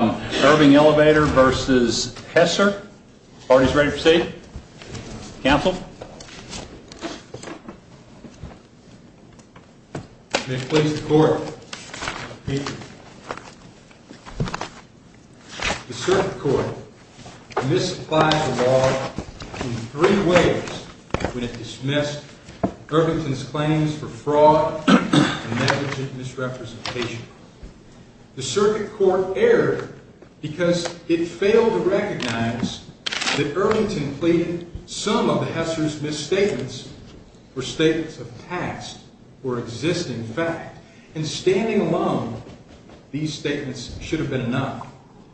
Irving Elevator v. Heser, parties ready to proceed? Counsel? May it please the Court, I repeat, the Circuit Court misapplies the law in three ways when it dismissed Irvington's claims for fraud and negligent misrepresentation. The Circuit Court erred because it failed to recognize that Irvington pleaded some of the Heser's misstatements were statements of past or existing fact, and standing alone, these statements should have been enough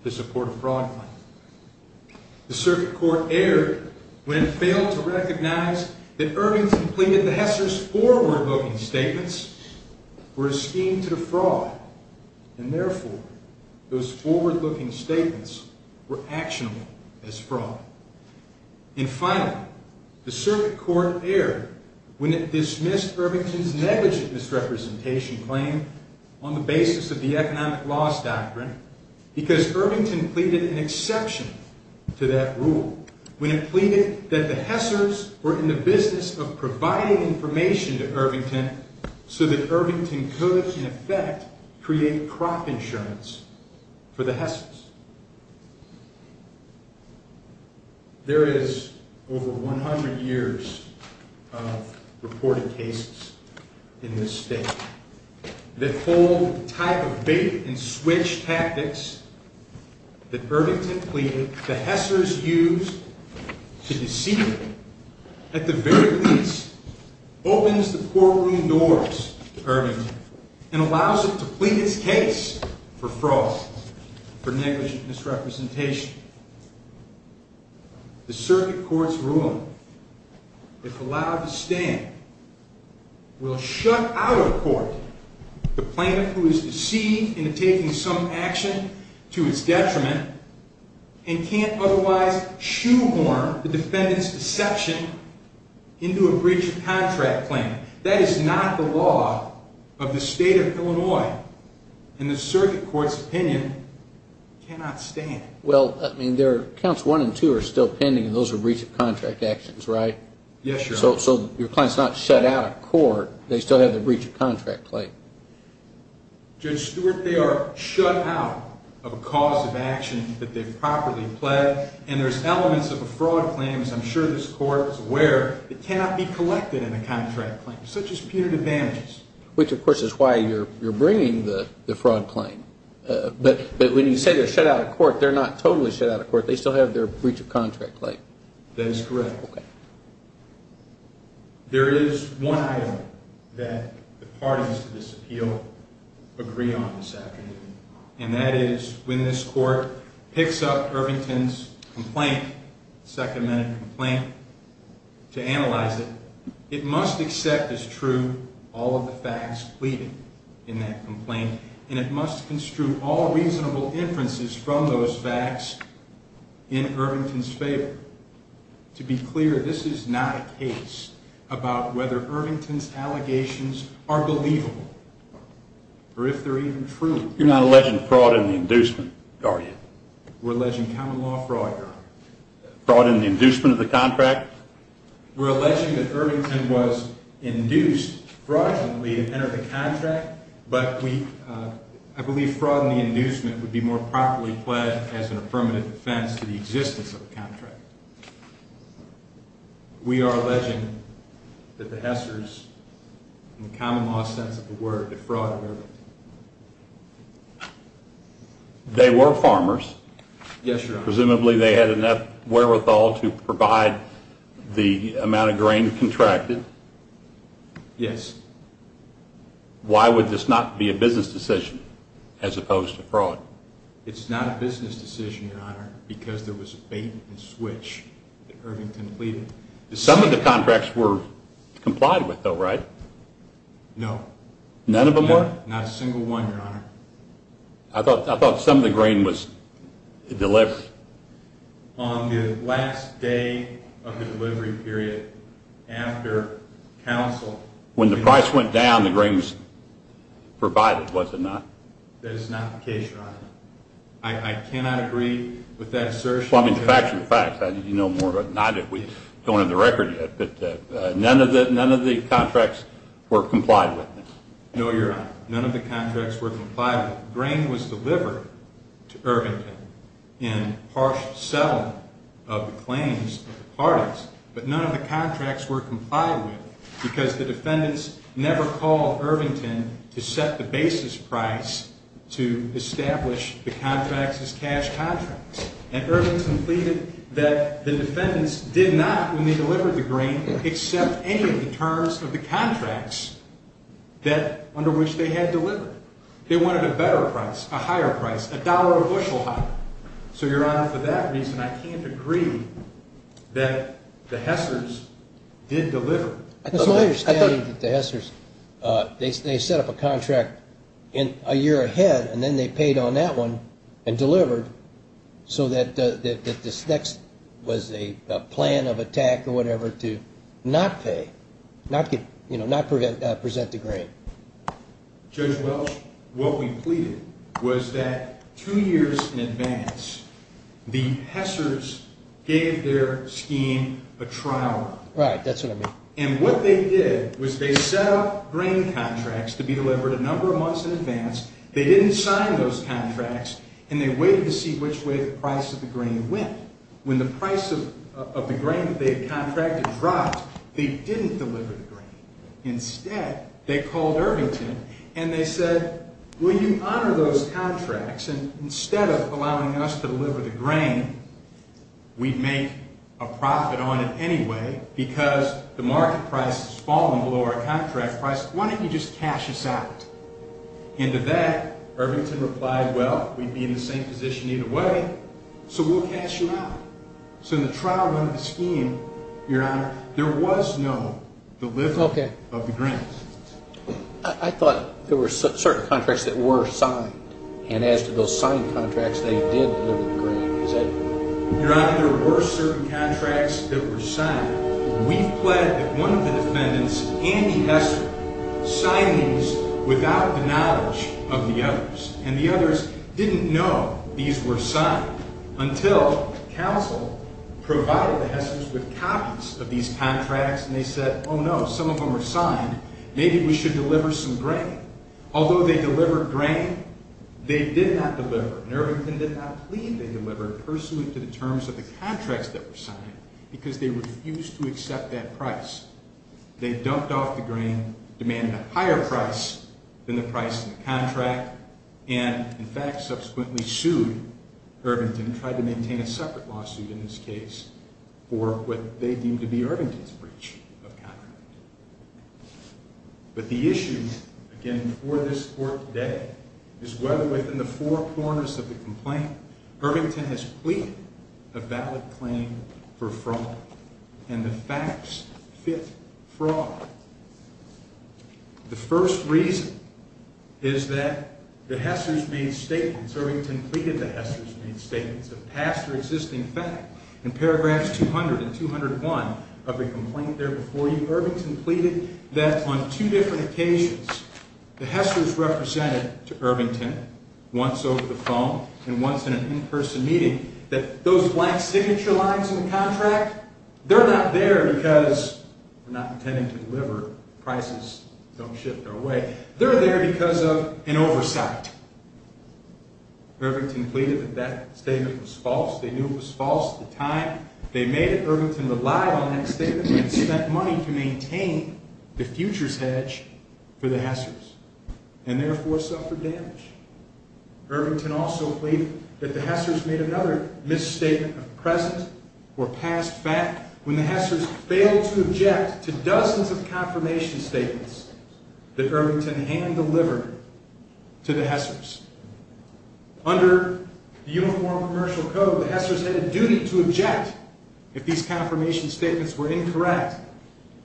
to support a fraud claim. The Circuit Court erred when it failed to recognize that Irvington pleaded the Heser's forward-looking statements were a scheme to defraud, and therefore, those forward-looking statements were actionable as fraud. And finally, the Circuit Court erred when it dismissed Irvington's negligent misrepresentation claim on the basis of the economic loss doctrine because Irvington pleaded an exception to that rule when it pleaded that the Heser's were in the business of providing information to Irvington so that Irvington could, in effect, create crop insurance for the Heser's. There is over 100 years of reported cases in this state that hold the type of bait-and-switch tactics that Irvington pleaded the Heser's used to deceive him at the very least opens the courtroom doors to Irvington and allows him to plead his case for fraud, for negligent misrepresentation. The Circuit Court's ruling, if allowed to stand, will shut out of court the plaintiff who is deceived into taking some action to its detriment and can't otherwise shoehorn the defendant's deception into a breach of contract claim. That is not the law of the state of Illinois, and the Circuit Court's opinion cannot stand. Well, I mean, counts 1 and 2 are still pending, and those are breach of contract actions, right? Yes, Your Honor. So your client's not shut out of court. They still have the breach of contract claim. Judge Stewart, they are shut out of a cause of action that they've properly pled, and there's elements of a fraud claim, as I'm sure this Court is aware, that cannot be collected in a contract claim, such as punitive damages. Which, of course, is why you're bringing the fraud claim. But when you say they're shut out of court, they're not totally shut out of court. They still have their breach of contract claim. That is correct. Okay. There is one item that the parties to this appeal agree on this afternoon, and that is when this Court picks up Irvington's complaint, second-minute complaint, to analyze it, it must accept as true all of the facts pleading in that complaint, and it must construe all reasonable inferences from those facts in Irvington's favor. To be clear, this is not a case about whether Irvington's allegations are believable, or if they're even true. You're not alleging fraud in the inducement, are you? We're alleging common law fraud, Your Honor. Fraud in the inducement of the contract? We're alleging that Irvington was induced fraudulently to enter the contract, but I believe fraud in the inducement would be more properly pled than that as an affirmative defense to the existence of the contract. We are alleging that the Hessers, in the common law sense of the word, defrauded Irvington. They were farmers. Yes, Your Honor. Presumably they had enough wherewithal to provide the amount of grain contracted. Yes. Why would this not be a business decision as opposed to fraud? It's not a business decision, Your Honor, because there was a bait-and-switch that Irvington pleaded. Some of the contracts were complied with, though, right? No. None of them were? Not a single one, Your Honor. I thought some of the grain was delivered. On the last day of the delivery period, after counsel... When the price went down, the grain was provided, was it not? That is not the case, Your Honor. I cannot agree with that assertion. Well, I mean, the facts are the facts. You know more about it than I do. We don't have the record yet, but none of the contracts were complied with. No, Your Honor. None of the contracts were complied with. The grain was delivered to Irvington in harsh settlement of the claims of the parties, but none of the contracts were complied with because the defendants never called Irvington to set the basis price to establish the contracts as cash contracts. And Irvington pleaded that the defendants did not, when they delivered the grain, accept any of the terms of the contracts under which they had delivered. They wanted a better price, a higher price, a dollar or a bushel higher. So, Your Honor, for that reason, I can't agree that the Hessers did deliver. It's my understanding that the Hessers, they set up a contract a year ahead and then they paid on that one and delivered so that this next was a plan of attack or whatever to not pay, not present the grain. Judge Welch, what we pleaded was that two years in advance, the Hessers gave their scheme a trial. Right, that's what I mean. And what they did was they set up grain contracts to be delivered a number of months in advance. They didn't sign those contracts and they waited to see which way the price of the grain went. When the price of the grain that they had contracted dropped, they didn't deliver the grain. Instead, they called Irvington and they said, will you honor those contracts and instead of allowing us to deliver the grain, we make a profit on it anyway because the market price has fallen below our contract price. Why don't you just cash us out? And to that, Irvington replied, well, we'd be in the same position either way, so we'll cash you out. So in the trial run of the scheme, Your Honor, there was no delivery of the grain. I thought there were certain contracts that were signed and as to those signed contracts, they did deliver the grain. Your Honor, there were certain contracts that were signed. We've pledged that one of the defendants, Andy Hessler, signed these without the knowledge of the others. And the others didn't know these were signed until counsel provided the Hesslers with copies of these contracts and they said, oh no, some of them are signed. Maybe we should deliver some grain. Although they delivered grain, they did not deliver. Irvington did not plead they delivered pursuant to the terms of the contracts that were signed because they refused to accept that price. They dumped off the grain, demanded a higher price than the price in the contract, and in fact subsequently sued Irvington, tried to maintain a separate lawsuit in this case for what they deemed to be Irvington's breach of contract. But the issue, again, for this court today is whether within the four corners of the complaint, Irvington has pleaded a valid claim for fraud and the facts fit fraud. The first reason is that the Hesslers made statements, Irvington pleaded the Hesslers made statements that passed their existing fact in paragraphs 200 and 201 of the complaint there before you. Irvington pleaded that on two different occasions the Hesslers represented to Irvington, once over the phone and once in an in-person meeting, that those black signature lines in the contract, they're not there because they're not intending to deliver. Prices don't shift their way. They're there because of an oversight. Irvington pleaded that that statement was false. They knew it was false at the time. They made it Irvington relied on that statement and spent money to maintain the futures hedge for the Hesslers and therefore suffered damage. Irvington also pleaded that the Hesslers made another misstatement of present or past fact when the Hesslers failed to object to dozens of confirmation statements that Irvington hand-delivered to the Hesslers. Under the Uniform Commercial Code, the Hesslers had a duty to object if these confirmation statements were incorrect.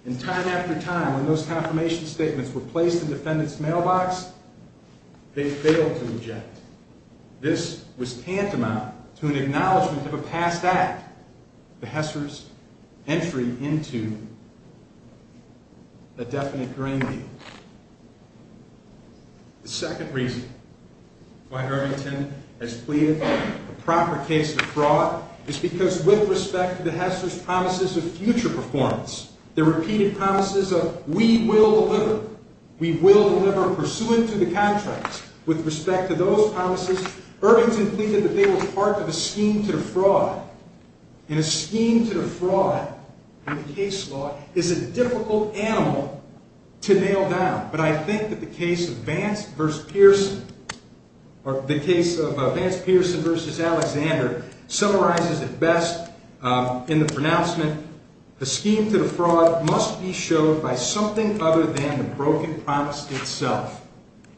In fact, in time after time, when those confirmation statements were placed in defendant's mailbox, they failed to object. This was tantamount to an acknowledgment of a past act, the Hesslers' entry into a definite grain deal. The second reason why Irvington has pleaded the proper case of fraud is because with respect to the Hesslers' promises of future performance, their repeated promises of we will deliver, we will deliver pursuant to the contracts, with respect to those promises, Irvington pleaded that they were part of a scheme to defraud. And a scheme to defraud in a case law is a difficult animal to nail down. But I think that the case of Vance v. Pearson or the case of Vance Pearson v. Alexander summarizes it best in the pronouncement, the scheme to defraud must be showed by something other than the broken promise itself.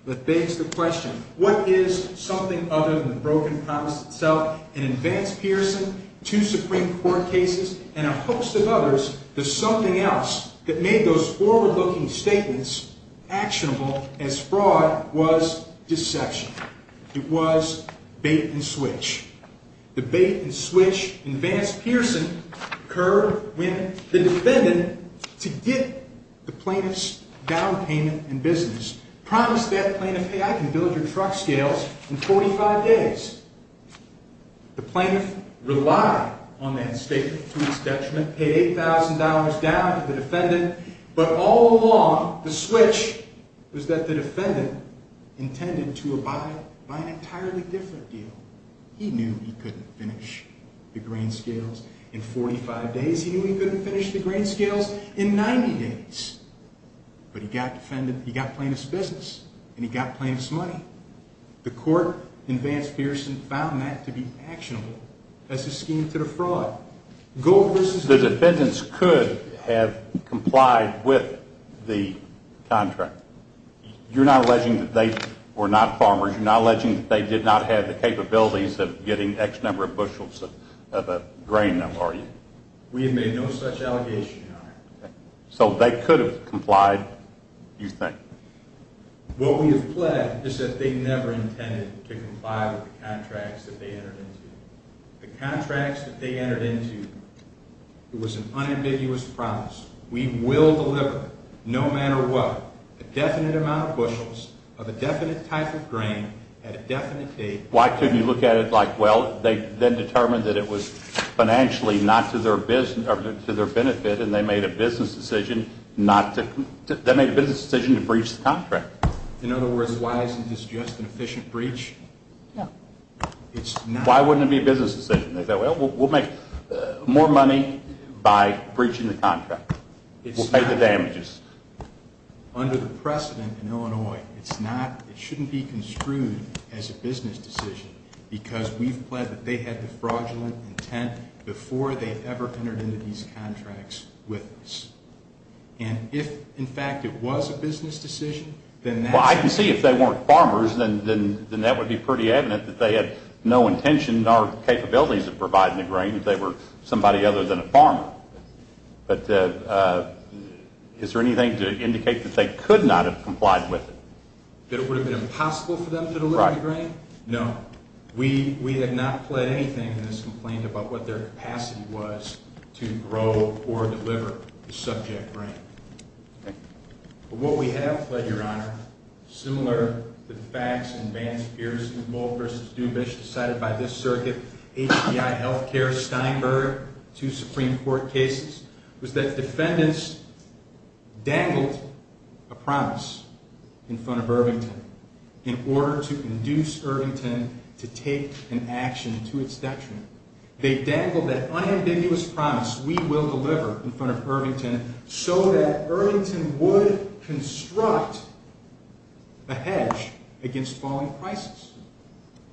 That begs the question, what is something other than the broken promise itself? In Vance Pearson, two Supreme Court cases, and a host of others, there's something else that made those forward-looking statements actionable as fraud was deception. It was bait and switch. The bait and switch in Vance Pearson occurred when the defendant, to get the plaintiff's down payment in business, promised that plaintiff, hey, I can build your truck scales in 45 days. The plaintiff relied on that statement to its detriment, paid $8,000 down to the defendant, but all along the switch was that the defendant intended to abide by an entirely different deal. He knew he couldn't finish the grain scales in 45 days. He knew he couldn't finish the grain scales in 90 days, but he got plaintiff's business and he got plaintiff's money. The court in Vance Pearson found that to be actionable as a scheme to defraud. The defendants could have complied with the contract. You're not alleging that they were not farmers. You're not alleging that they did not have the capabilities of getting X number of bushels of grain, are you? We have made no such allegation, Your Honor. So they could have complied, you think? What we have pled is that they never intended to comply with the contracts that they entered into. The contracts that they entered into, it was an unambiguous promise. We will deliver, no matter what, a definite amount of bushels of a definite type of grain at a definite date. Why couldn't you look at it like, well, they then determined that it was financially not to their benefit and they made a business decision to breach the contract. In other words, why isn't this just an efficient breach? No. Why wouldn't it be a business decision? They said, well, we'll make more money by breaching the contract. We'll pay the damages. Under the precedent in Illinois, it shouldn't be construed as a business decision because we've pled that they had the fraudulent intent before they ever entered into these contracts with us. And if, in fact, it was a business decision, then that's... Well, I can see if they weren't farmers, then that would be pretty evident that they had no intention nor capabilities of providing the grain if they were somebody other than a farmer. But is there anything to indicate that they could not have complied with it? That it would have been impossible for them to deliver the grain? No. We have not pled anything in this complaint about what their capacity was to grow or deliver the subject grain. But what we have pled, Your Honor, similar to the facts in Vance Pearson's Bull v. Dubish decided by this circuit, HBI Healthcare, Steinberg, two Supreme Court cases, was that defendants dangled a promise in front of Irvington in order to induce Irvington to take an action to its detriment. They dangled that unambiguous promise, we will deliver in front of Irvington, so that Irvington would construct a hedge against falling prices.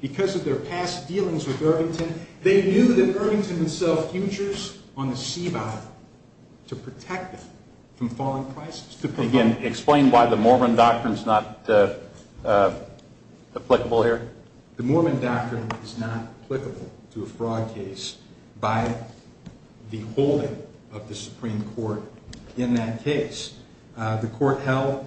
Because of their past dealings with Irvington, they knew that Irvington himself futures on the sea bottom to protect them from falling prices. Again, explain why the Mormon doctrine is not applicable here. The Mormon doctrine is not applicable to a fraud case by the holding of the Supreme Court in that case. The court held,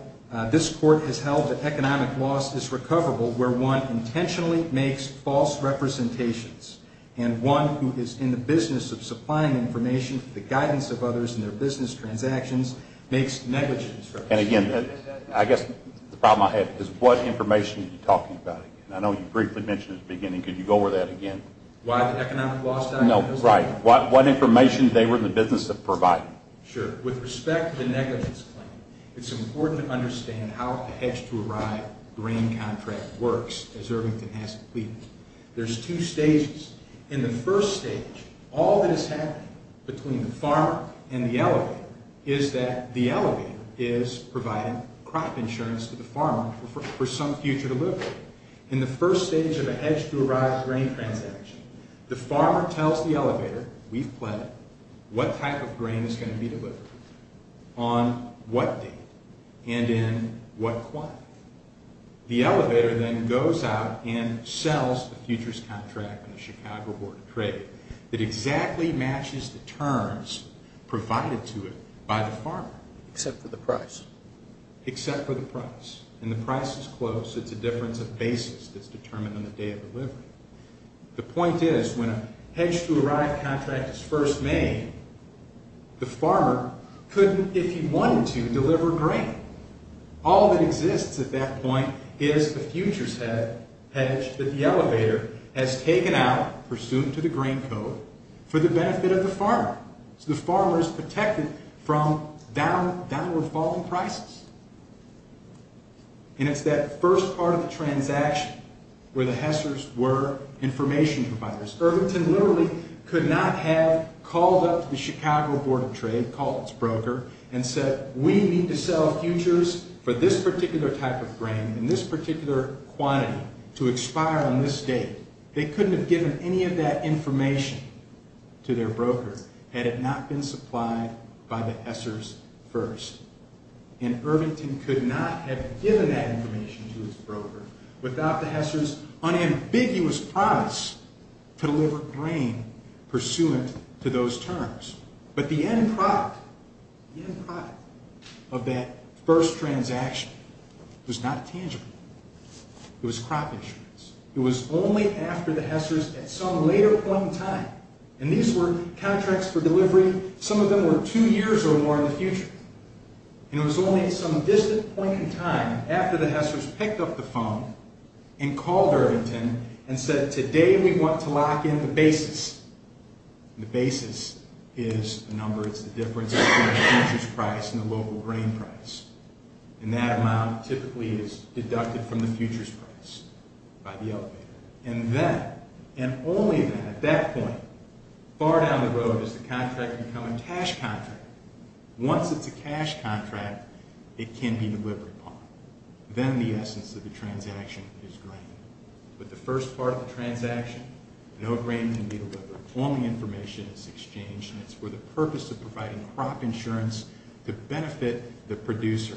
this court has held that economic loss is recoverable where one intentionally makes false representations and one who is in the business of supplying information for the guidance of others in their business transactions makes negligence representations. And again, I guess the problem I have is what information are you talking about? I know you briefly mentioned it at the beginning. Could you go over that again? Why the economic loss? No, right. What information they were in the business of providing. Sure. With respect to the negligence claim, it's important to understand how a hedge-to-arrive grain contract works as Irvington has it pleaded. There's two stages. In the first stage, all that is happening between the farmer and the elevator is that the elevator is providing crop insurance to the farmer for some future delivery. In the first stage of a hedge-to-arrive grain transaction, the farmer tells the elevator, we've pledged, what type of grain is going to be delivered on what date and in what quantity. The elevator then goes out and sells the futures contract in the Chicago Board of Trade that exactly matches the terms provided to it by the farmer. Except for the price. Except for the price. And the price is close. It's a difference of basis that's determined on the day of delivery. The point is when a hedge-to-arrive contract is first made, the farmer couldn't, if he wanted to, deliver grain. All that exists at that point is the futures hedge that the elevator has taken out, pursuant to the grain code, for the benefit of the farmer. So the farmer is protected from downward-falling prices. And it's that first part of the transaction where the hessers were information providers. Irvington literally could not have called up the Chicago Board of Trade, called its broker, and said, we need to sell futures for this particular type of grain and this particular quantity to expire on this date. They couldn't have given any of that information to their broker had it not been supplied by the hessers first. without the hessers' unambiguous promise to deliver grain pursuant to those terms. But the end product of that first transaction was not tangible. It was crop insurance. It was only after the hessers, at some later point in time, and these were contracts for delivery, some of them were two years or more in the future, and it was only at some distant point in time, after the hessers picked up the phone and called Irvington and said, today we want to lock in the basis. The basis is the number, it's the difference between the futures price and the local grain price. And that amount typically is deducted from the futures price by the elevator. And then, and only then, at that point, far down the road is the contract become a cash contract. Once it's a cash contract, it can be delivered upon. Then the essence of the transaction is grain. With the first part of the transaction, no grain can be delivered. Only information is exchanged, and it's for the purpose of providing crop insurance to benefit the producer.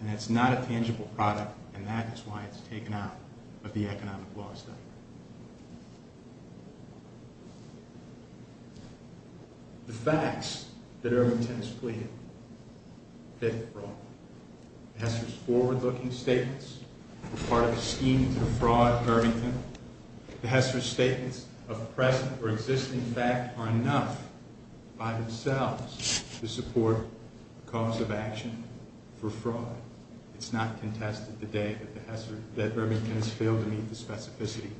And that's not a tangible product, and that is why it's taken out of the economic law study. The facts that Irvington has pleaded fit the problem. The hessers' forward-looking statements were part of a scheme to defraud Irvington. The hessers' statements of present or existing fact are enough by themselves to support the cause of action for fraud. It's not contested today that Irvington has failed to meet the specificity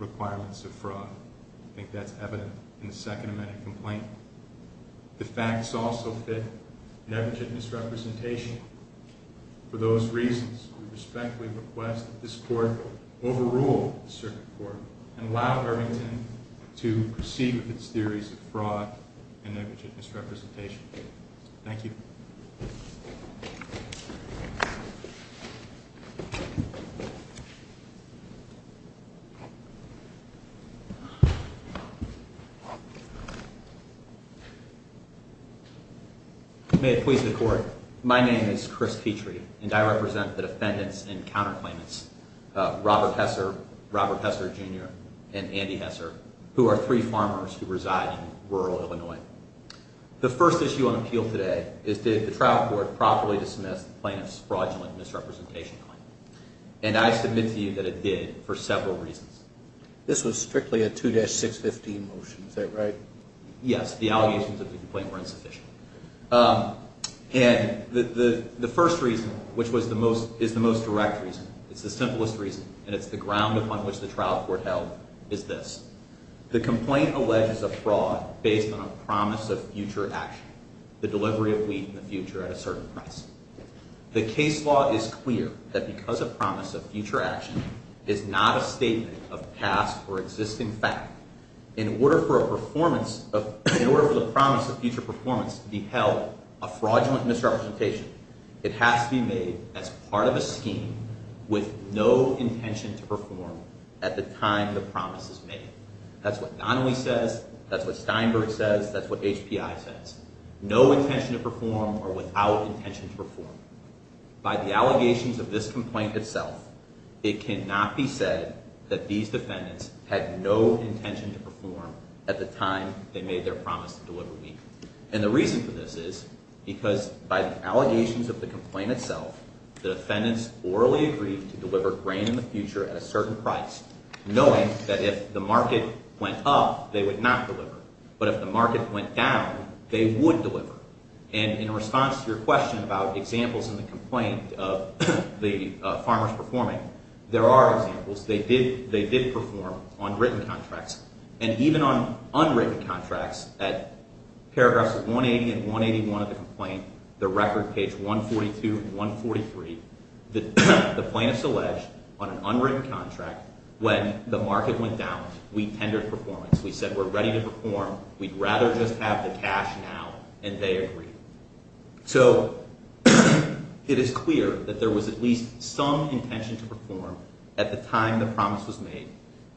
of the case. I think that's evident in the Second Amendment complaint. The facts also fit negligent misrepresentation. For those reasons, we respectfully request that this Court overrule the Circuit Court and allow Irvington to proceed with its theories of fraud and negligent misrepresentation. Thank you. May it please the Court. My name is Chris Petrie, and I represent the defendants in counterclaimants Robert Hesser, Robert Hesser, Jr., and Andy Hesser, who are three farmers who reside in rural Illinois. The first issue on appeal today is did the trial court properly dismiss the plaintiff's fraudulent misrepresentation claim? And I submit to you that it did for several reasons. This was strictly a 2-615 motion, is that right? Yes, the allegations of the complaint were insufficient. And the first reason, which is the most direct reason, it's the simplest reason, and it's the ground upon which the trial court held, is this. The complaint alleges a fraud based on a promise of future action, the delivery of wheat in the future at a certain price. The case law is clear that because a promise of future action is not a statement of past or existing fact, in order for the promise of future performance to be held, a fraudulent misrepresentation, it has to be made as part of a scheme with no intention to perform at the time the promise is made. That's what Donnelly says, that's what Steinberg says, that's what HPI says. No intention to perform or without intention to perform. By the allegations of this complaint itself, it cannot be said that these defendants had no intention to perform at the time they made their promise to deliver wheat. And the reason for this is because by the allegations of the complaint itself, the defendants orally agreed to deliver grain in the future at a certain price, knowing that if the market went up, they would not deliver. But if the market went down, they would deliver. And in response to your question about examples in the complaint of the farmers performing, there are examples. They did perform on written contracts. And even on unwritten contracts at paragraphs 180 and 181 of the complaint, the record page 142 and 143, the plaintiffs allege on an unwritten contract when the market went down, we tendered performance. We said we're ready to perform. We'd rather just have the cash now. And they agreed. So it is clear that there was at least some intention to perform at the time the promise was made.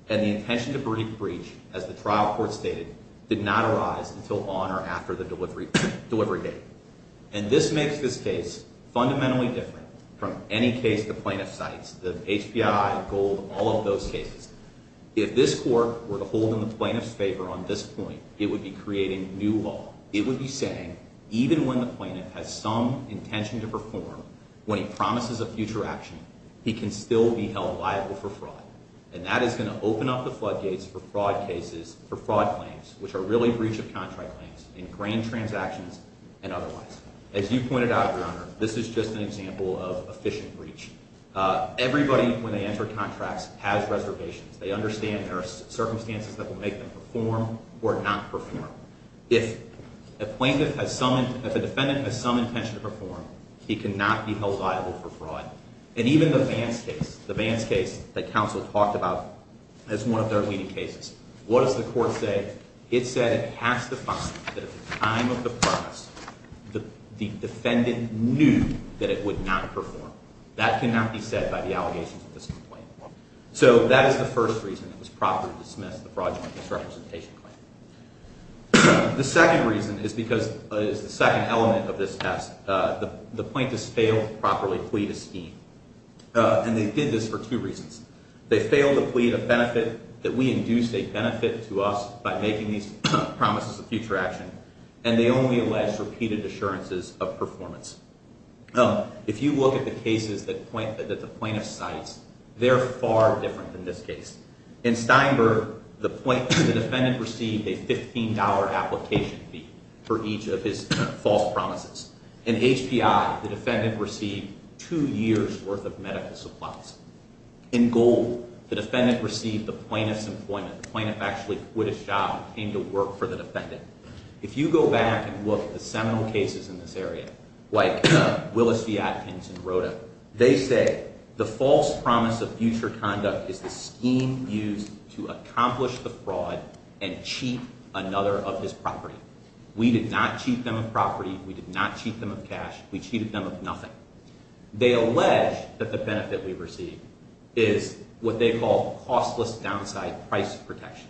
And the intention to breach, as the trial court stated, did not arise until on or after the delivery date. And this makes this case fundamentally different from any case the plaintiff cites, the HPI, Gold, all of those cases. If this court were to hold in the plaintiff's favor on this point, it would be creating new law. It would be saying even when the plaintiff has some intention to perform, when he promises a future action, he can still be held liable for fraud. And that is going to open up the floodgates for fraud cases, for fraud claims, which are really breach of contract claims in grand transactions and otherwise. As you pointed out, Your Honor, this is just an example of efficient breach. Everybody, when they enter contracts, has reservations. They understand there are circumstances that will make them perform or not perform. If a defendant has some intention to perform, he cannot be held liable for fraud. And even the Vance case, the Vance case that counsel talked about as one of their leading cases, what does the court say? It said it has to find that at the time of the promise, the defendant knew that it would not perform. That cannot be said by the allegations of this complaint. So that is the first reason it was proper to dismiss the fraudulent misrepresentation claim. The second reason is because it is the second element of this test. The plaintiffs failed to properly plead a scheme, and they did this for two reasons. They failed to plead a benefit that we induce a benefit to us by making these promises of future action, and they only alleged repeated assurances of performance. If you look at the cases that the plaintiff cites, they're far different than this case. In Steinberg, the defendant received a $15 application fee for each of his false promises. In HPI, the defendant received two years' worth of medical supplies. In Gold, the defendant received the plaintiff's employment. The plaintiff actually quit his job and came to work for the defendant. If you go back and look at the seminal cases in this area, like Willis-Viatkins and Rota, they say the false promise of future conduct is the scheme used to accomplish the fraud and cheat another of his property. We did not cheat them of property. We did not cheat them of cash. We cheated them of nothing. They allege that the benefit we receive is what they call costless downside price protection.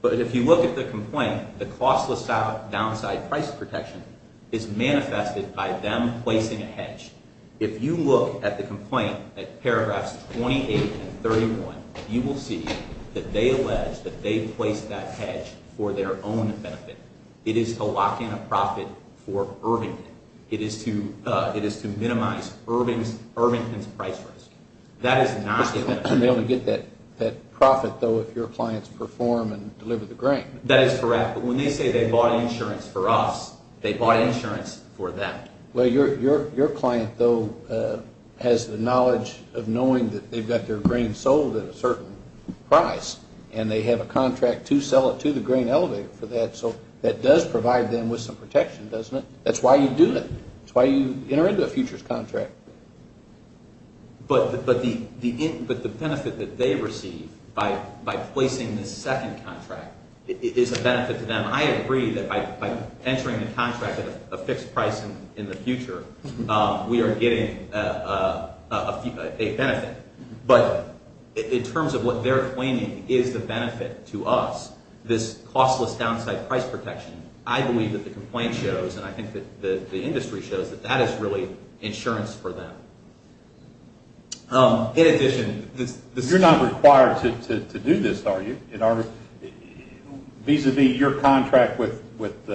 But if you look at the complaint, the costless downside price protection is manifested by them placing a hedge. If you look at the complaint at paragraphs 28 and 31, you will see that they allege that they placed that hedge for their own benefit. It is to lock in a profit for Irvington. It is to minimize Irvington's price risk. They only get that profit, though, if your clients perform and deliver the grain. That is correct. But when they say they bought insurance for us, they bought insurance for them. Well, your client, though, has the knowledge of knowing that they've got their grain sold at a certain price and they have a contract to sell it to the grain elevator for that. So that does provide them with some protection, doesn't it? That's why you do it. That's why you enter into a futures contract. But the benefit that they receive by placing this second contract is a benefit to them. I agree that by entering the contract at a fixed price in the future, we are getting a benefit. But in terms of what they're claiming is the benefit to us, this costless downside price protection, I believe that the complaint shows, and I think that the industry shows, that that is really insurance for them. You're not required to do this, are you? Vis-a-vis your contract with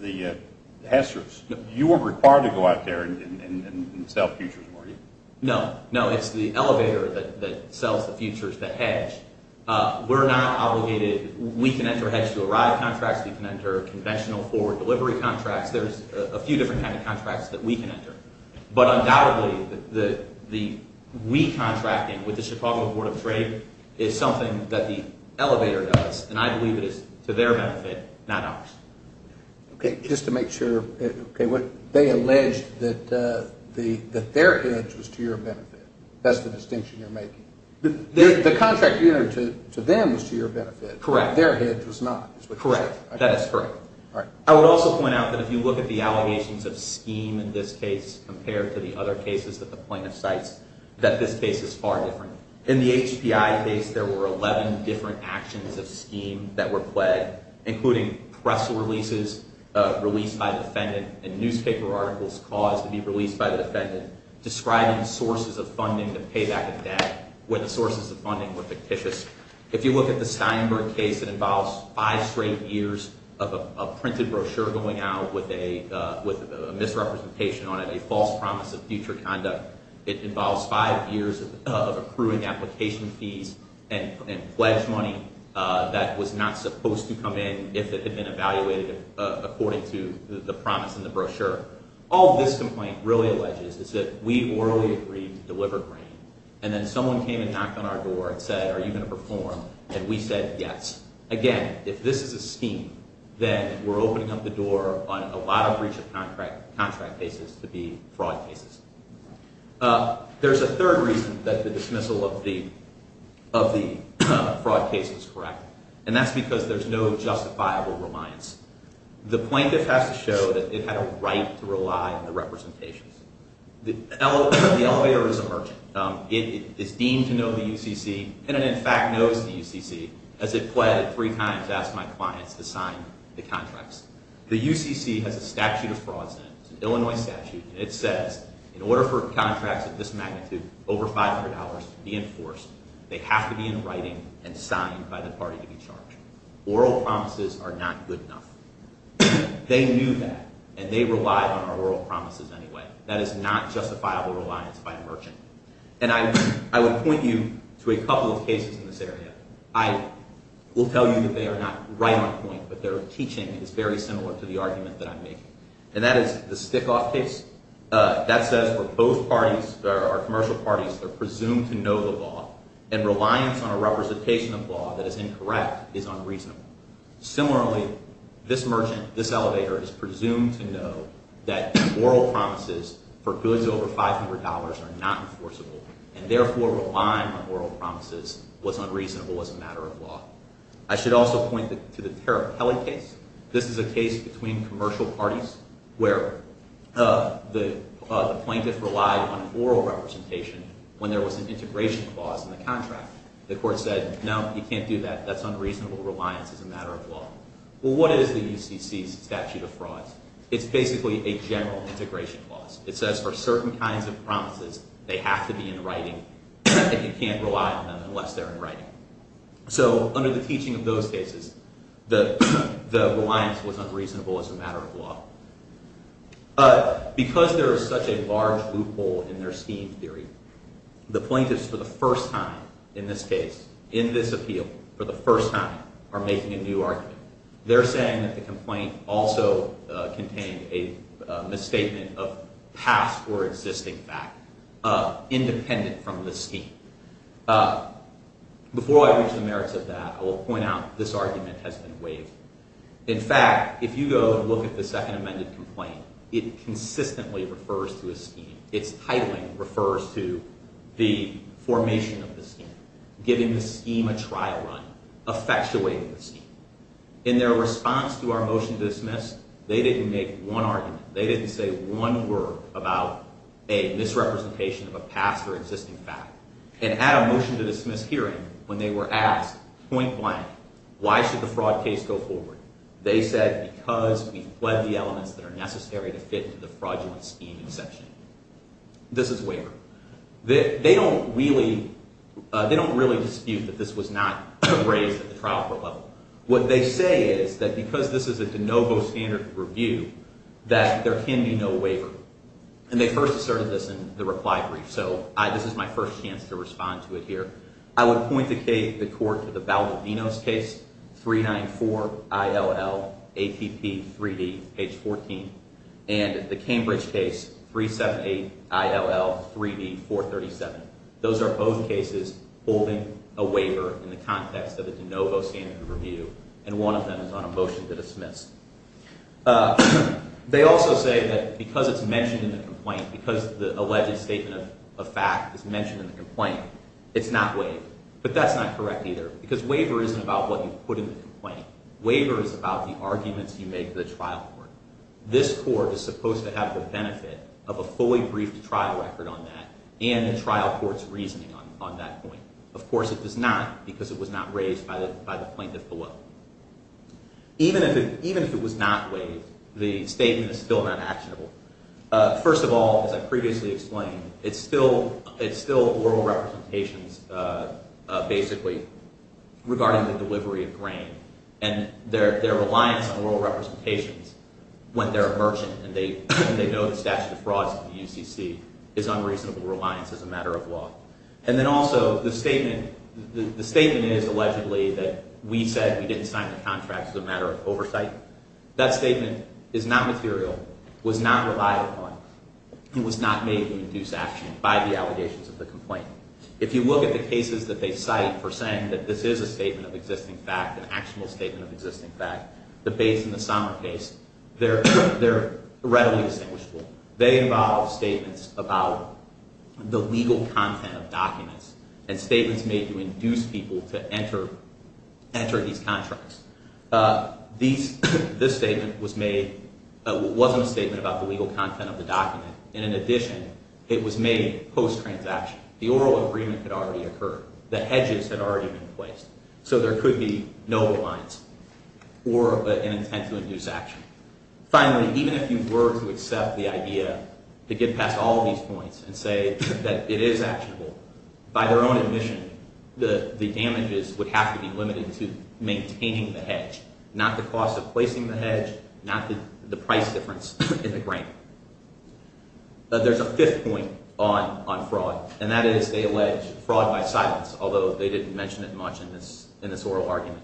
the Hester's, you were required to go out there and sell futures, were you? No. No, it's the elevator that sells the futures, the hedge. We're not obligated. We can enter hedge-to-arrive contracts. We can enter conventional forward delivery contracts. There's a few different kinds of contracts that we can enter. But undoubtedly, the re-contracting with the Chicago Board of Trade is something that the elevator does, and I believe it is to their benefit, not ours. Okay, just to make sure. They allege that their hedge was to your benefit. That's the distinction you're making. The contract you entered to them was to your benefit. Correct. Their hedge was not. Correct. That is correct. All right. I would also point out that if you look at the allegations of scheme in this case compared to the other cases that the plaintiff cites, that this case is far different. In the HPI case, there were 11 different actions of scheme that were plagued, describing sources of funding to pay back the debt when the sources of funding were fictitious. If you look at the Steinberg case, it involves five straight years of a printed brochure going out with a misrepresentation on it, a false promise of future conduct. It involves five years of accruing application fees and pledge money that was not supposed to come in if it had been evaluated according to the promise in the brochure. All this complaint really alleges is that we orally agreed to deliver grain, and then someone came and knocked on our door and said, are you going to perform, and we said yes. Again, if this is a scheme, then we're opening up the door on a lot of breach of contract cases to be fraud cases. There's a third reason that the dismissal of the fraud case was correct, and that's because there's no justifiable reliance. The plaintiff has to show that it had a right to rely on the representations. The elevator is a merchant. It is deemed to know the UCC, and it in fact knows the UCC, as it pleaded three times to ask my clients to sign the contracts. The UCC has a statute of frauds in it. It's an Illinois statute, and it says in order for contracts of this magnitude, over $500, to be enforced, they have to be in writing and signed by the party to be charged. Oral promises are not good enough. They knew that, and they relied on our oral promises anyway. That is not justifiable reliance by a merchant. And I would point you to a couple of cases in this area. I will tell you that they are not right on point, but their teaching is very similar to the argument that I'm making. And that is the Stickoff case. That says for both parties, or commercial parties, they're presumed to know the law, and reliance on a representation of law that is incorrect is unreasonable. Similarly, this merchant, this elevator, is presumed to know that oral promises for goods over $500 are not enforceable, and therefore relying on oral promises was unreasonable as a matter of law. I should also point to the Tarapelli case. This is a case between commercial parties where the plaintiff relied on an oral representation when there was an integration clause in the contract. The court said, no, you can't do that. That's unreasonable reliance as a matter of law. Well, what is the UCC's statute of frauds? It's basically a general integration clause. It says for certain kinds of promises, they have to be in writing, and you can't rely on them unless they're in writing. So under the teaching of those cases, the reliance was unreasonable as a matter of law. Because there is such a large loophole in their scheme theory, the plaintiffs for the first time in this case, in this appeal, for the first time, are making a new argument. They're saying that the complaint also contained a misstatement of past or existing fact, independent from the scheme. Before I reach the merits of that, I will point out this argument has been waived. In fact, if you go and look at the second amended complaint, it consistently refers to a scheme. Its titling refers to the formation of the scheme, giving the scheme a trial run, effectuating the scheme. In their response to our motion to dismiss, they didn't make one argument. They didn't say one word about a misrepresentation of a past or existing fact. And at a motion to dismiss hearing, when they were asked, point blank, why should the fraud case go forward, they said, because we fled the elements that are necessary to fit into the fraudulent scheme exception. This is waiver. They don't really dispute that this was not raised at the trial court level. What they say is that because this is a de novo standard review, that there can be no waiver. And they first asserted this in the reply brief. So this is my first chance to respond to it here. I would point the court to the Baldivinos case, 394-ILL-ATP-3D, page 14, and the Cambridge case, 378-ILL-3D-437. Those are both cases holding a waiver in the context of a de novo standard review, and one of them is on a motion to dismiss. They also say that because it's mentioned in the complaint, because the alleged statement of fact is mentioned in the complaint, it's not waived. But that's not correct either, because waiver isn't about what you put in the complaint. Waiver is about the arguments you make to the trial court. This court is supposed to have the benefit of a fully briefed trial record on that, and the trial court's reasoning on that point. Of course, it does not, because it was not raised by the plaintiff below. Even if it was not waived, the statement is still not actionable. First of all, as I previously explained, it's still oral representations, basically, regarding the delivery of grain. And their reliance on oral representations, when they're a merchant and they know the statute of frauds in the UCC, is unreasonable reliance as a matter of law. And then also, the statement is, allegedly, that we said we didn't sign the contract as a matter of oversight. That statement is not material, was not relied upon, and was not made to induce action by the allegations of the complaint. If you look at the cases that they cite for saying that this is a statement of existing fact, an actual statement of existing fact, the Bates and the Sommer case, they're readily distinguishable. They involve statements about the legal content of documents and statements made to induce people to enter these contracts. This statement wasn't a statement about the legal content of the document. In addition, it was made post-transaction. The oral agreement had already occurred. The hedges had already been placed. So there could be no reliance or an intent to induce action. Finally, even if you were to accept the idea to get past all of these points and say that it is actionable, by their own admission, the damages would have to be limited to maintaining the hedge, not the cost of placing the hedge, not the price difference in the grant. There's a fifth point on fraud, and that is they allege fraud by silence, although they didn't mention it much in this oral argument.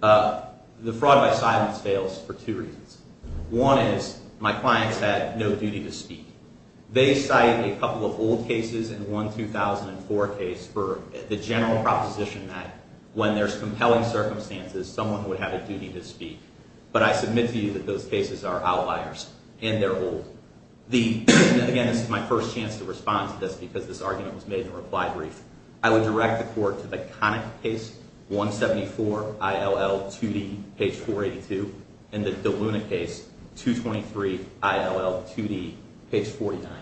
The fraud by silence fails for two reasons. One is my clients had no duty to speak. They cite a couple of old cases in one 2004 case for the general proposition that when there's compelling circumstances, someone would have a duty to speak. But I submit to you that those cases are outliers, and they're old. Again, this is my first chance to respond to this because this argument was made in a reply brief. I would direct the court to the Connick case, 174 ILL 2D, page 482, and the DeLuna case, 223 ILL 2D, page 49.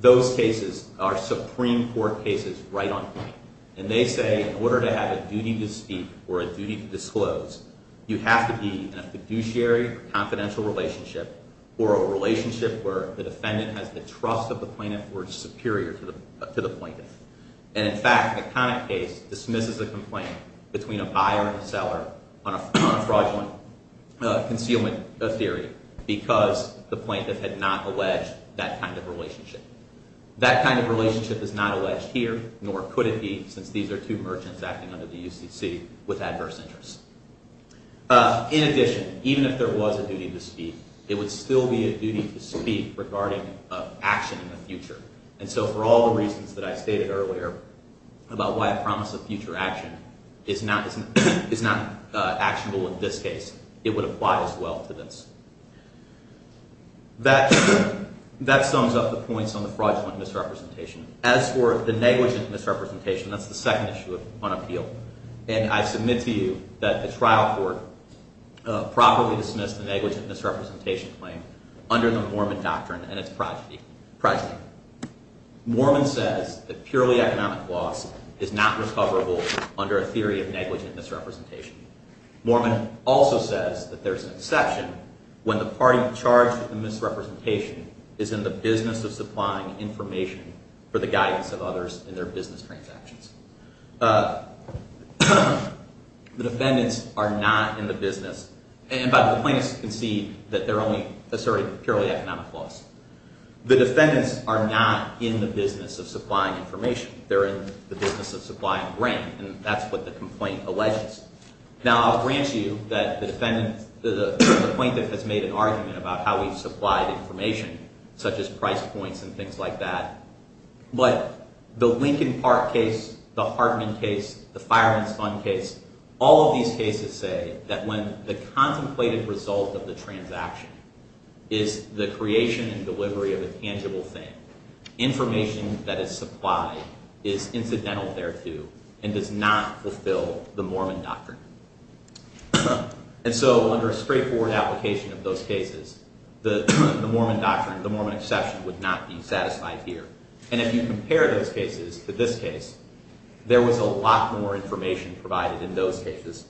Those cases are Supreme Court cases right on point. And they say in order to have a duty to speak or a duty to disclose, you have to be in a fiduciary confidential relationship or a relationship where the defendant has the trust of the plaintiff or is superior to the plaintiff. And in fact, the Connick case dismisses a complaint between a buyer and a seller on a fraudulent concealment theory because the plaintiff had not alleged that kind of relationship. That kind of relationship is not alleged here, nor could it be, since these are two merchants acting under the UCC with adverse interests. In addition, even if there was a duty to speak, it would still be a duty to speak regarding action in the future. And so for all the reasons that I stated earlier about why a promise of future action is not actionable in this case, it would apply as well to this. That sums up the points on the fraudulent misrepresentation. As for the negligent misrepresentation, that's the second issue on appeal. And I submit to you that the trial court properly dismissed the negligent misrepresentation claim under the Mormon doctrine and its progeny. Mormon says that purely economic loss is not recoverable under a theory of negligent misrepresentation. Mormon also says that there's an exception when the party charged with the misrepresentation is in the business of supplying information for the guidance of others in their business transactions. The defendants are not in the business – and by the plaintiffs, you can see that they're only asserting purely economic loss. The defendants are not in the business of supplying information. They're in the business of supplying rent, and that's what the complaint alleges. Now, I'll grant you that the plaintiff has made an argument about how he supplied information, such as price points and things like that. But the Lincoln Park case, the Hartman case, the Fireman's Fund case, all of these cases say that when the contemplated result of the transaction is the creation and delivery of a tangible thing, information that is supplied is incidental thereto and does not fulfill the Mormon doctrine. And so under a straightforward application of those cases, the Mormon doctrine, the Mormon exception, would not be satisfied here. And if you compare those cases to this case, there was a lot more information provided in those cases.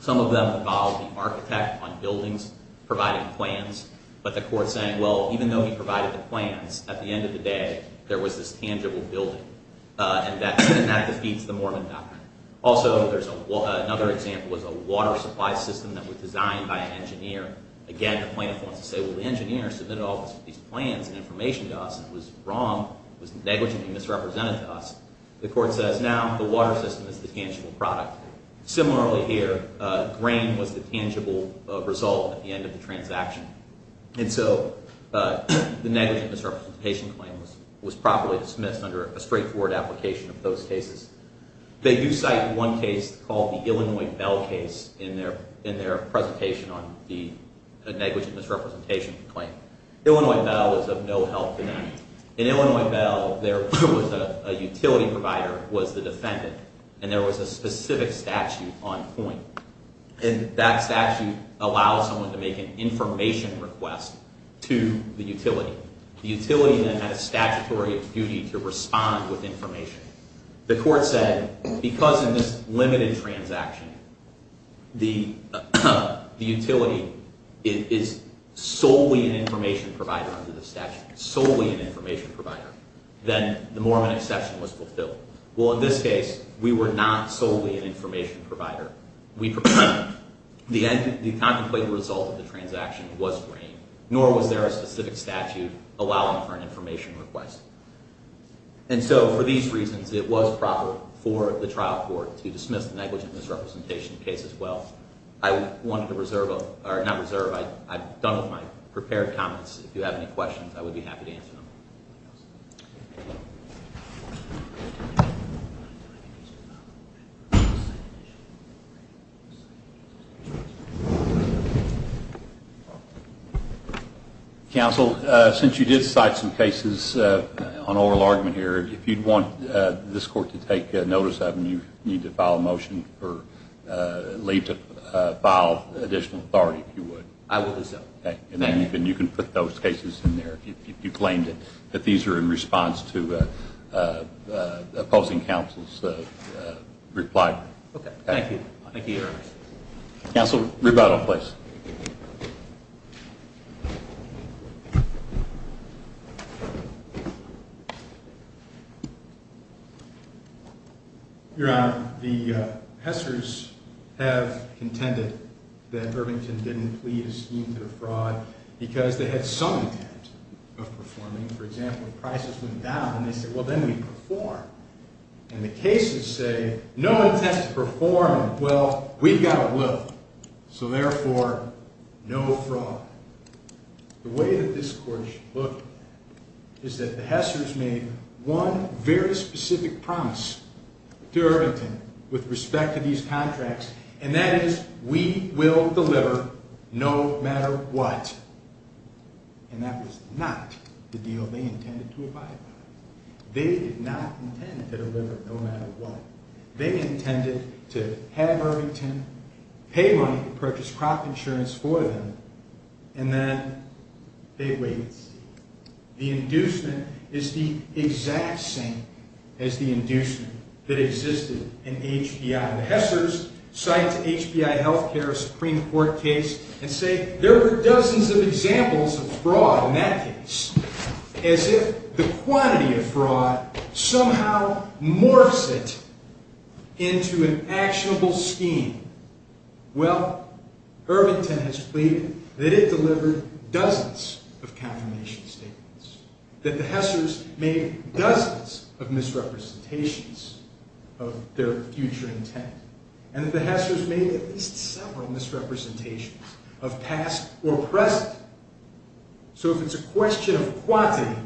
Some of them involved the architect on buildings providing plans, but the court saying, well, even though he provided the plans, at the end of the day, there was this tangible building, and that defeats the Mormon doctrine. Also, another example is a water supply system that was designed by an engineer. Again, the plaintiff wants to say, well, the engineer submitted all these plans and information to us, and it was wrong. It was negligently misrepresented to us. The court says, now the water system is the tangible product. Similarly here, grain was the tangible result at the end of the transaction. And so the negligent misrepresentation claim was properly dismissed under a straightforward application of those cases. They do cite one case called the Illinois Bell case in their presentation on the negligent misrepresentation claim. Illinois Bell is of no help to them. In Illinois Bell, there was a utility provider who was the defendant, and there was a specific statute on point. And that statute allows someone to make an information request to the utility. The utility then had a statutory duty to respond with information. The court said, because in this limited transaction, the utility is solely an information provider under the statute, solely an information provider, then the Mormon exception was fulfilled. Well, in this case, we were not solely an information provider. The contemplated result of the transaction was grain, nor was there a specific statute allowing for an information request. And so for these reasons, it was proper for the trial court to dismiss the negligent misrepresentation case as well. I wanted to reserve, or not reserve, I've done with my prepared comments. If you have any questions, I would be happy to answer them. Counsel, since you did cite some cases on oral argument here, if you'd want this court to take notice of them, you need to file a motion or leave to file additional authority, if you would. I will reserve. Okay. And then you can put those cases in there, if you claimed it. If these are in response to opposing counsel's reply. Okay. Thank you. Thank you, Your Honor. Counsel, rebuttal, please. Your Honor, the Hesters have contended that Irvington didn't plead a scheme to defraud because they had some intent of performing, for example, prices went down, and they said, well, then we perform. And the cases say, no intent of performing, well, we've got a will, so therefore, no fraud. The way that this court should look is that the Hesters made one very specific promise to Irvington with respect to these contracts, and that is, we will deliver no matter what. And that was not the deal they intended to abide by. They did not intend to deliver no matter what. They intended to have Irvington pay money to purchase crop insurance for them, and then they waited. The inducement is the exact same as the inducement that existed in HBI. The Hesters cite HBI health care, a Supreme Court case, and say there were dozens of examples of fraud in that case, as if the quantity of fraud somehow morphs it into an actionable scheme. Well, Irvington has pleaded that it delivered dozens of confirmation statements, that the Hesters made dozens of misrepresentations of their future intent, and that the Hesters made at least several misrepresentations of past or present. So if it's a question of quantity,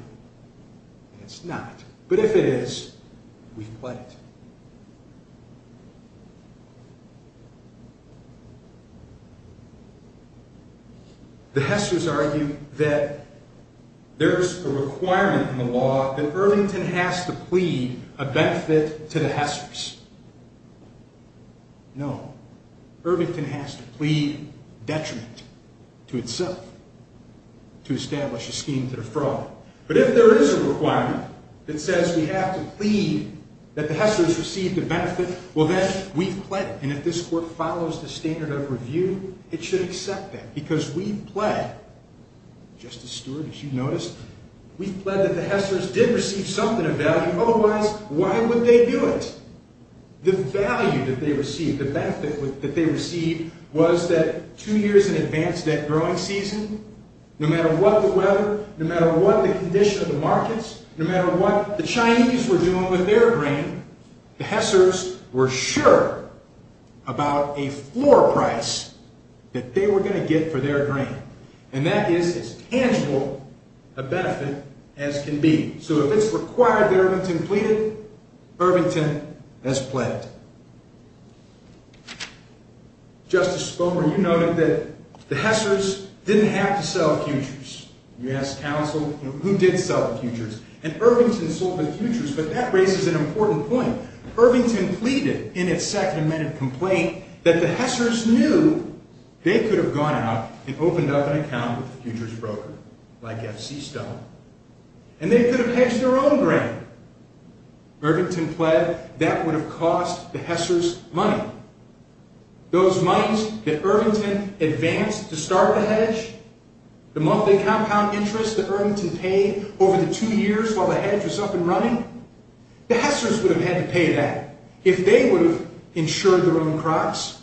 it's not. But if it is, we've pledged. The Hesters argue that there's a requirement in the law that Irvington has to plead a benefit to the Hesters. No, Irvington has to plead detriment to itself to establish a scheme to defraud. But if there is a requirement that says we have to plead that the Hesters have to plead a benefit to the Hesters, and the Hesters receive the benefit, well, then we've pledged. And if this Court follows the standard of review, it should accept that, because we've pledged, Justice Stewart, as you noticed, we've pledged that the Hesters did receive something of value. Otherwise, why would they do it? The value that they received, the benefit that they received, was that two years in advance of that growing season, no matter what the weather, no matter what the condition of the markets, no matter what the Chinese were doing with their grain, the Hesters were sure about a floor price that they were going to get for their grain. And that is as tangible a benefit as can be. So if it's required that Irvington plead it, Irvington has pledged. Justice Spomer, you noted that the Hesters didn't have to sell futures. You ask counsel, who did sell the futures? And Irvington sold the futures, but that raises an important point. Irvington pleaded in its Second Amendment complaint that the Hesters knew they could have gone out and opened up an account with a futures broker, like F.C. Stone, and they could have hedged their own grain. Irvington pled that would have cost the Hesters money. Those monies that Irvington advanced to start the hedge, the monthly compound interest that Irvington paid over the two years while the hedge was up and running, the Hesters would have had to pay that if they would have insured their own crops.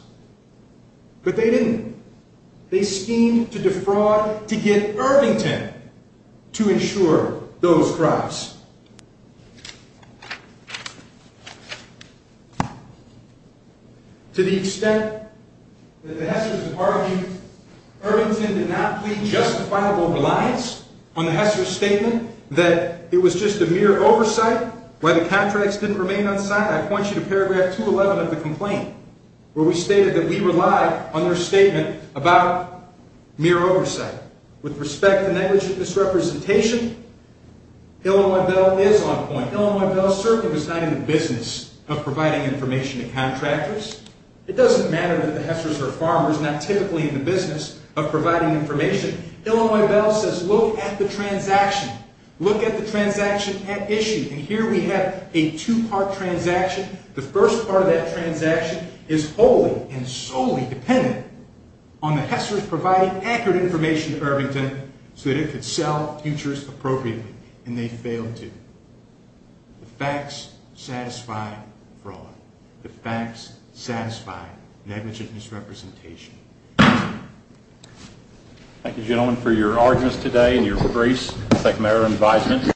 But they didn't. They schemed to defraud to get Irvington to insure those crops. To the extent that the Hesters have argued, Irvington did not plead justifiable reliance on the Hesters' statement that it was just a mere oversight, why the contracts didn't remain unsigned. I point you to paragraph 211 of the complaint, where we stated that we relied on their statement about mere oversight. With respect to negligent misrepresentation, Illinois Bell is on point. Illinois Bell certainly was not in the business of providing information to contractors. It doesn't matter that the Hesters are farmers, not typically in the business of providing information. Illinois Bell says, look at the transaction. Look at the transaction at issue. And here we have a two-part transaction. The first part of that transaction is wholly and solely dependent on the Hesters providing accurate information to Irvington so that it could sell futures appropriately. And they failed to. The facts satisfy fraud. The facts satisfy negligent misrepresentation. Thank you. Thank you, gentlemen, for your arguments today and your briefs. Thank you, Mayor and Vice Mayor.